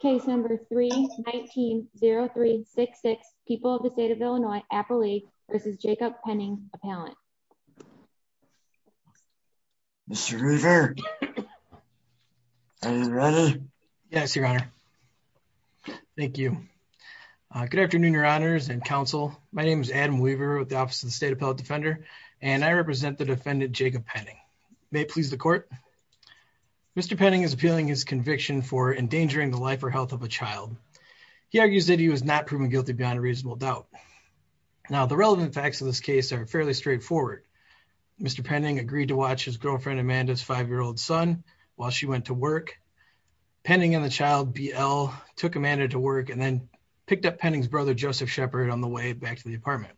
Case number 319-0366, people of the state of Illinois, Appalachia v. Jacob Penning, appellant. Mr. Weaver, are you ready? Yes, your honor. Thank you. Good afternoon, your honors and counsel. My name is Adam Weaver with the Office of the State Appellate Defender and I represent the defendant Jacob Penning. May it please the court. Mr. Penning is appealing his conviction for endangering the life or health of a child. He argues that he was not proven guilty beyond a reasonable doubt. Now, the relevant facts of this case are fairly straightforward. Mr. Penning agreed to watch his girlfriend Amanda's five-year-old son while she went to work. Penning and the child, BL, took Amanda to work and then picked up Penning's brother, Joseph Shepherd, on the way back to the apartment.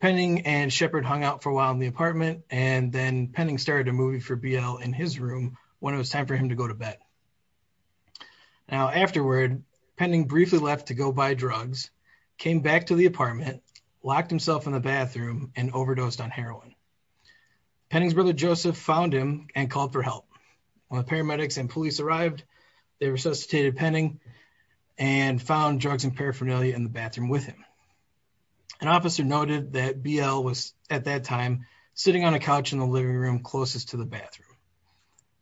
Penning and Shepherd hung out for a while in the apartment and then Penning started a movie for BL in his room when it was time for him to go to bed. Now, afterward, Penning briefly left to go buy drugs, came back to the apartment, locked himself in the bathroom, and overdosed on heroin. Penning's brother, Joseph, found him and called for help. When the paramedics and police arrived, they resuscitated Penning and found drugs and paraphernalia in the bathroom with him. An officer noted that BL was, at that time, sitting on a couch in the living room closest to the bathroom.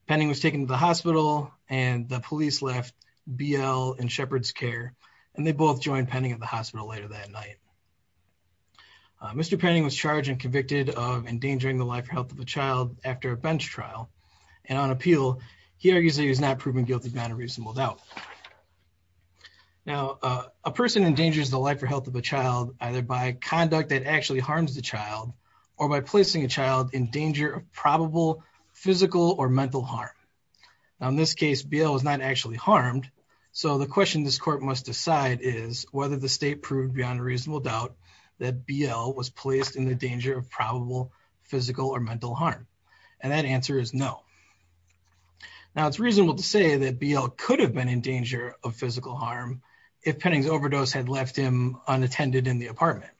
Penning was taken to the hospital and the police left BL in Shepherd's care, and they both joined Penning at the hospital later that night. Mr. Penning was charged and convicted of endangering the life or health of a child after a bench trial, and on appeal, he argues that he was not proven guilty beyond a reasonable doubt. Now, a person endangers the life or health of a child either by conduct that actually harms the child or by placing a child in danger of probable physical or mental harm. Now, in this case, BL was not actually harmed, so the question this court must decide is whether the state proved beyond a reasonable doubt that BL was placed in the danger of probable physical or mental harm, and that answer is no. Now, it's reasonable to say that BL could have been in danger of physical harm if Penning's overdose had left him unattended in the apartment.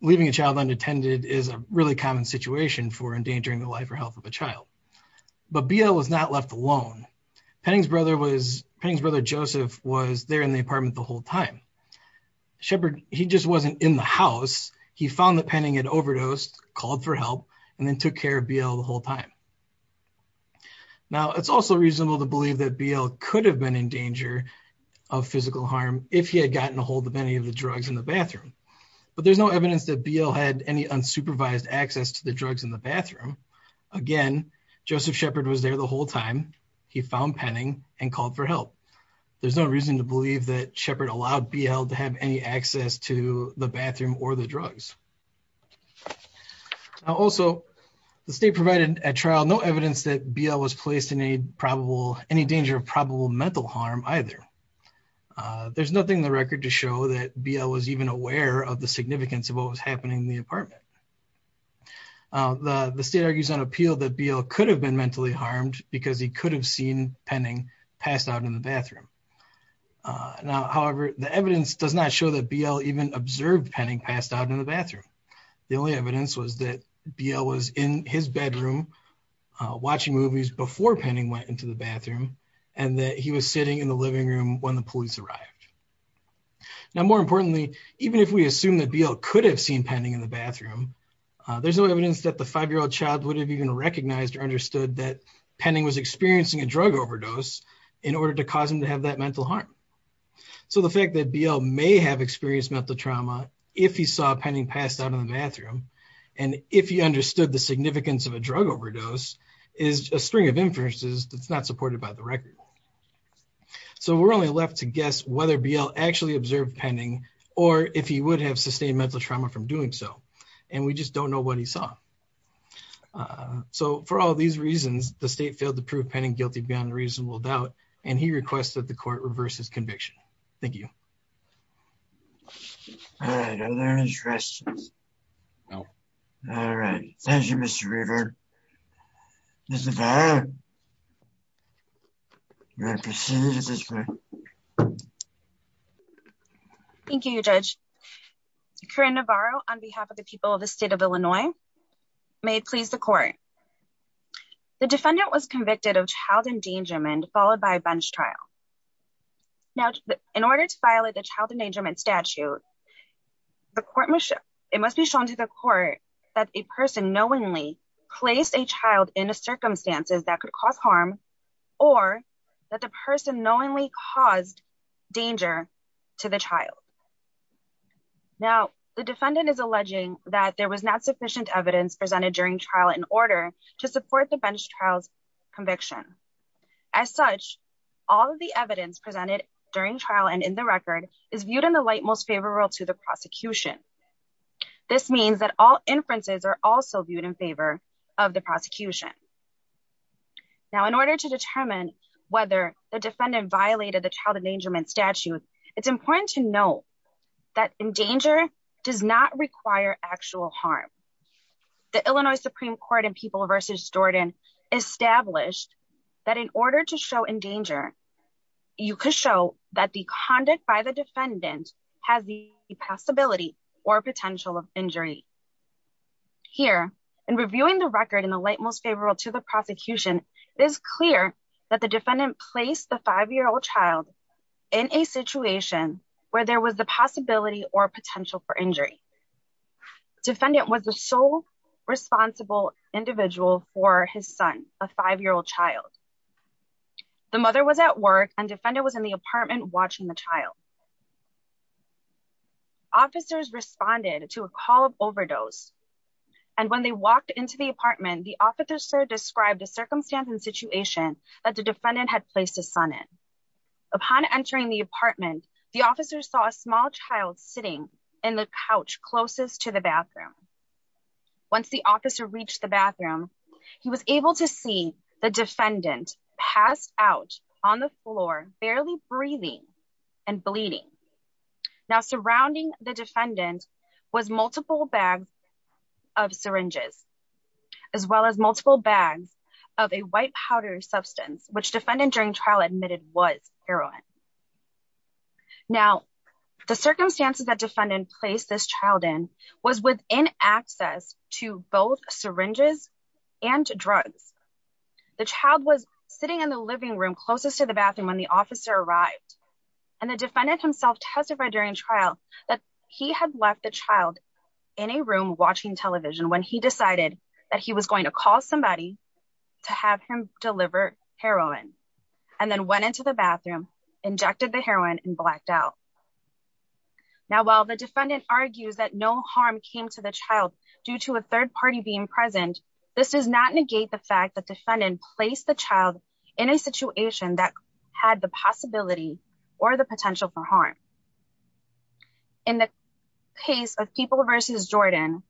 Leaving a child unattended is a really common situation for endangering the life or health of a child, but BL was not left alone. Penning's brother, Joseph, was there in the apartment the whole time. Shepherd, he just wasn't in the house. He found that Penning had overdosed, called for help, and then took care of BL the whole time. Now, it's also reasonable to believe that BL could have been in danger of physical harm if he had gotten ahold of any of the drugs in the bathroom, but there's no evidence that BL had any unsupervised access to the drugs in the bathroom. Again, Joseph Shepherd was there the whole time. He found Penning and called for help. There's no reason to believe that Shepherd allowed BL to have any access to the bathroom or the drugs. Also, the state provided at trial no evidence that BL was placed in any probable any danger of probable mental harm either. There's nothing in the record to show that BL was even aware of the significance of what was happening in the apartment. The state argues on appeal that BL could have been mentally harmed because he could have seen Penning passed out in the bathroom. Now, however, the evidence does not show that BL even observed Penning passed out in the bathroom. The only evidence was that BL was in his bedroom watching movies before Penning went into the bathroom and that he was sitting in the living room when the even if we assume that BL could have seen Penning in the bathroom, there's no evidence that the five-year-old child would have even recognized or understood that Penning was experiencing a drug overdose in order to cause him to have that mental harm. So the fact that BL may have experienced mental trauma if he saw Penning passed out in the bathroom and if he understood the significance of a drug overdose is a string of inferences that's not supported by the record. So we're only left to guess whether BL actually observed Penning or if he would have sustained mental trauma from doing so and we just don't know what he saw. So for all these reasons, the state failed to prove Penning guilty beyond reasonable doubt and he requests that the court reverse his conviction. Thank you. All right, are there any questions? No. All right. Thank you, Mr. Reaver. Ms. Navarro, you may proceed. Thank you, Judge. Corinne Navarro on behalf of the people of the state of Illinois may please the court. The defendant was convicted of child endangerment followed by a bench trial. Now, in order to violate the child endangerment statute, it must be shown to the court that a person knowingly placed a child in a circumstances that could cause harm or that the person knowingly caused danger to the child. Now, the defendant is alleging that there was not sufficient evidence presented during trial in order to support the bench trials conviction. As such, all of the evidence presented during trial and in the record is viewed in the light most favorable to the prosecution. This means that all inferences are also viewed in favor of the prosecution. Now, in order to determine whether the defendant violated the child endangerment statute, it's important to know that in danger does not require actual harm. The Illinois Supreme Court and people versus Jordan established that in order to show in danger, you could show that the conduct by the defendant has the possibility or potential of injury. Here, in reviewing the record in the light most favorable to the prosecution, it is clear that the defendant placed the five-year-old child in a situation where there was the possibility or potential for injury. Defendant was the sole responsible individual for his son, a five-year-old child. The mother was at work and defendant was in the apartment watching the child. Officers responded to a call of overdose and when they walked into the apartment, the officer described a circumstance and situation that the defendant had placed his son in. Upon entering the apartment, the officer saw a small child sitting in the couch closest to the bathroom. Once the officer reached the bathroom, he was able to see the defendant passed out on the floor barely breathing and bleeding. Now, surrounding the defendant was multiple bags of syringes as well as multiple bags of a white powder substance, which defendant during trial admitted was heroin. Now, the circumstances that defendant placed this child in was within access to both syringes and drugs. The child was sitting in the living room closest to the bathroom when the officer arrived and the defendant himself testified during trial that he had left the child in a room watching television when he decided that he was going to call somebody to have him the bathroom, injected the heroin, and blacked out. Now, while the defendant argues that no harm came to the child due to a third party being present, this does not negate the fact that defendant placed the child in a situation that had the possibility or the potential for harm. In the case of People v. Jordan,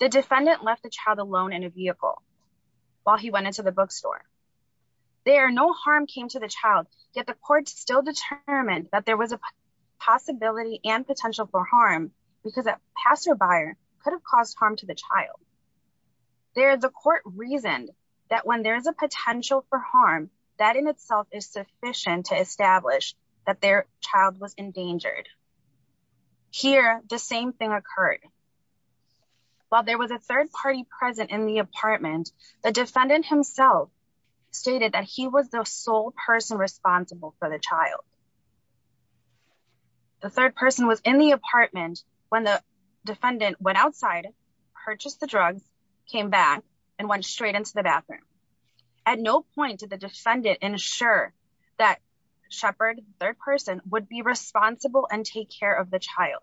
the defendant left the child alone in a vehicle while he went into the bookstore. There, no harm came to the child, yet the court still determined that there was a possibility and potential for harm because a passerby could have caused harm to the child. There, the court reasoned that when there is a potential for harm, that in itself is sufficient to establish that their child was endangered. Here, the same thing occurred. While there was a third party present in the apartment, the defendant himself stated that he was the sole person responsible for the child. The third person was in the apartment when the defendant went outside, purchased the drugs, came back, and went straight into the bathroom. At no point did the defendant ensure that Shepherd, the third person, would be responsible and take care of the child.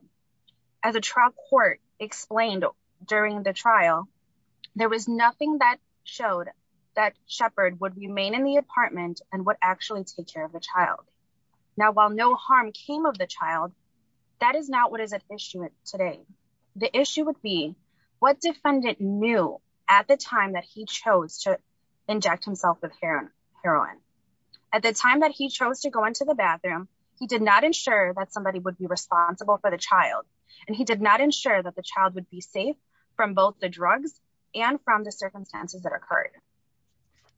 As a trial court explained during the trial, there was nothing that showed that Shepherd would remain in the apartment and would actually take care of the child. Now, while no harm came of the child, that is not what is at issue today. The issue would be what defendant knew at the time that he chose to inject himself with heroin. At the time that he chose to go into the bathroom, he did not ensure that somebody would be responsible for the child, and he did not ensure that the child would be safe from both the drugs and from the circumstances that occurred.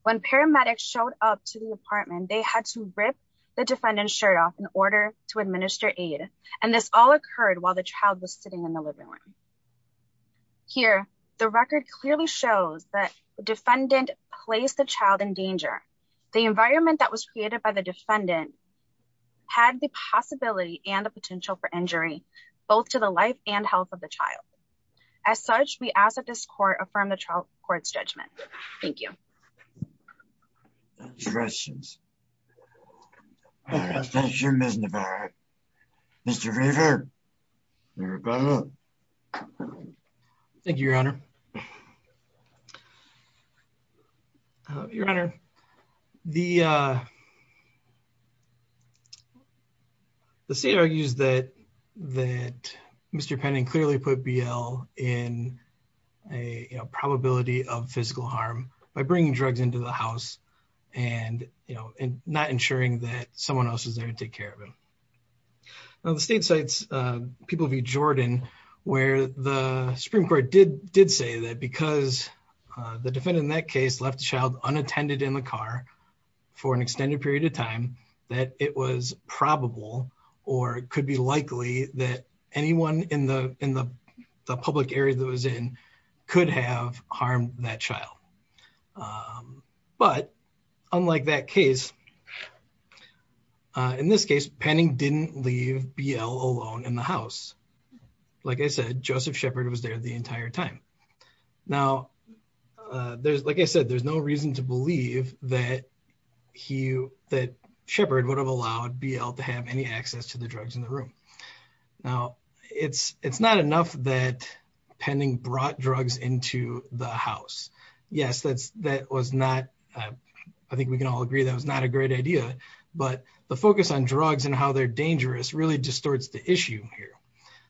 When paramedics showed up to the apartment, they had to rip the defendant's shirt off in order to administer aid, and this all occurred while the child was sitting in the living room. Here, the record clearly shows that the defendant placed the child in danger. The environment that was created by the defendant had the possibility and the potential for injury, both to the life and health of the child. As such, we ask that this court affirm the trial court's judgment. Thank you. Questions? Thank you, Your Honor. Your Honor, the state argues that Mr. Penning clearly put BL in a probability of physical harm by bringing drugs into the house and not ensuring that someone else was there to take care of him. Now, the state cites People v. Jordan, where the Supreme Court did say that because the defendant in that case left the child unattended in the car for an extended period of time, that it was probable or could be likely that anyone in the public area that was in could have harmed that child. But unlike that case, in this case, Penning didn't leave BL alone in the house. Like I said, Joseph Shepard was there the entire time. Now, like I said, there's no reason to believe that Shepard would have allowed BL to have any access to the drugs in the room. Now, it's not enough that Penning brought drugs into the house. Yes, I think we can all agree that was not a great idea, but the focus on drugs and how they're dangerous really distorts the issue here.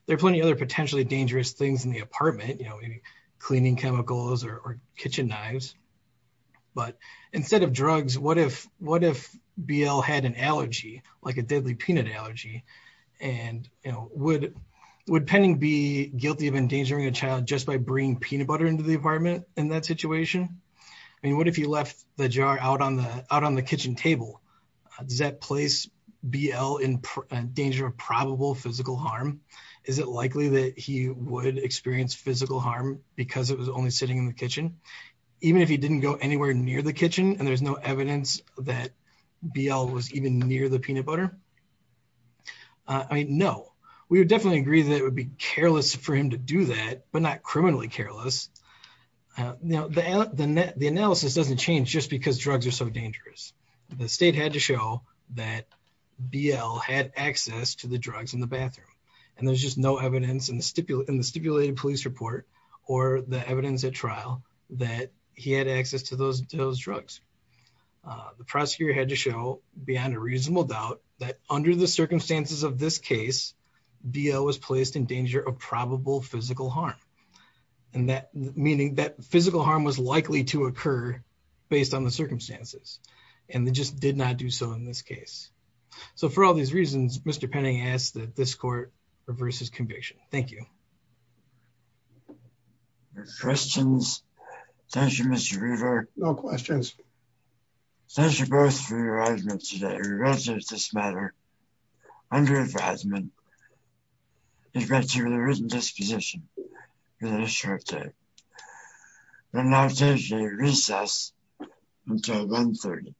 There are plenty of other potentially dangerous things in the apartment, you know, cleaning chemicals or kitchen knives. But instead of drugs, what if BL had an allergy, like a deadly peanut allergy? And, you know, would Penning be guilty of endangering a child just by bringing peanut butter into the apartment in that situation? I mean, what if he left the jar out on the kitchen table? Does that place BL in danger of probable physical harm? Is it likely that he would experience physical harm because it was only sitting in the kitchen? Even if he ate peanut butter? I mean, no, we would definitely agree that it would be careless for him to do that, but not criminally careless. Now, the analysis doesn't change just because drugs are so dangerous. The state had to show that BL had access to the drugs in the bathroom, and there's just no evidence in the stipulated police report or the evidence at trial that he had access to those drugs. The prosecutor had to show, beyond a reasonable doubt, that under the circumstances of this case, BL was placed in danger of probable physical harm. And that, meaning that physical harm was likely to occur based on the circumstances, and they just did not do so in this case. So for all these reasons, Mr. Penning asks that this court reverse his conviction. Thank you. Any questions? Thank you, Mr. Reaver. No questions. Thank you both for your argument today. Regardless of this matter, under-advisement is granted with a written disposition within a short time. We'll now take a recess until 1.30.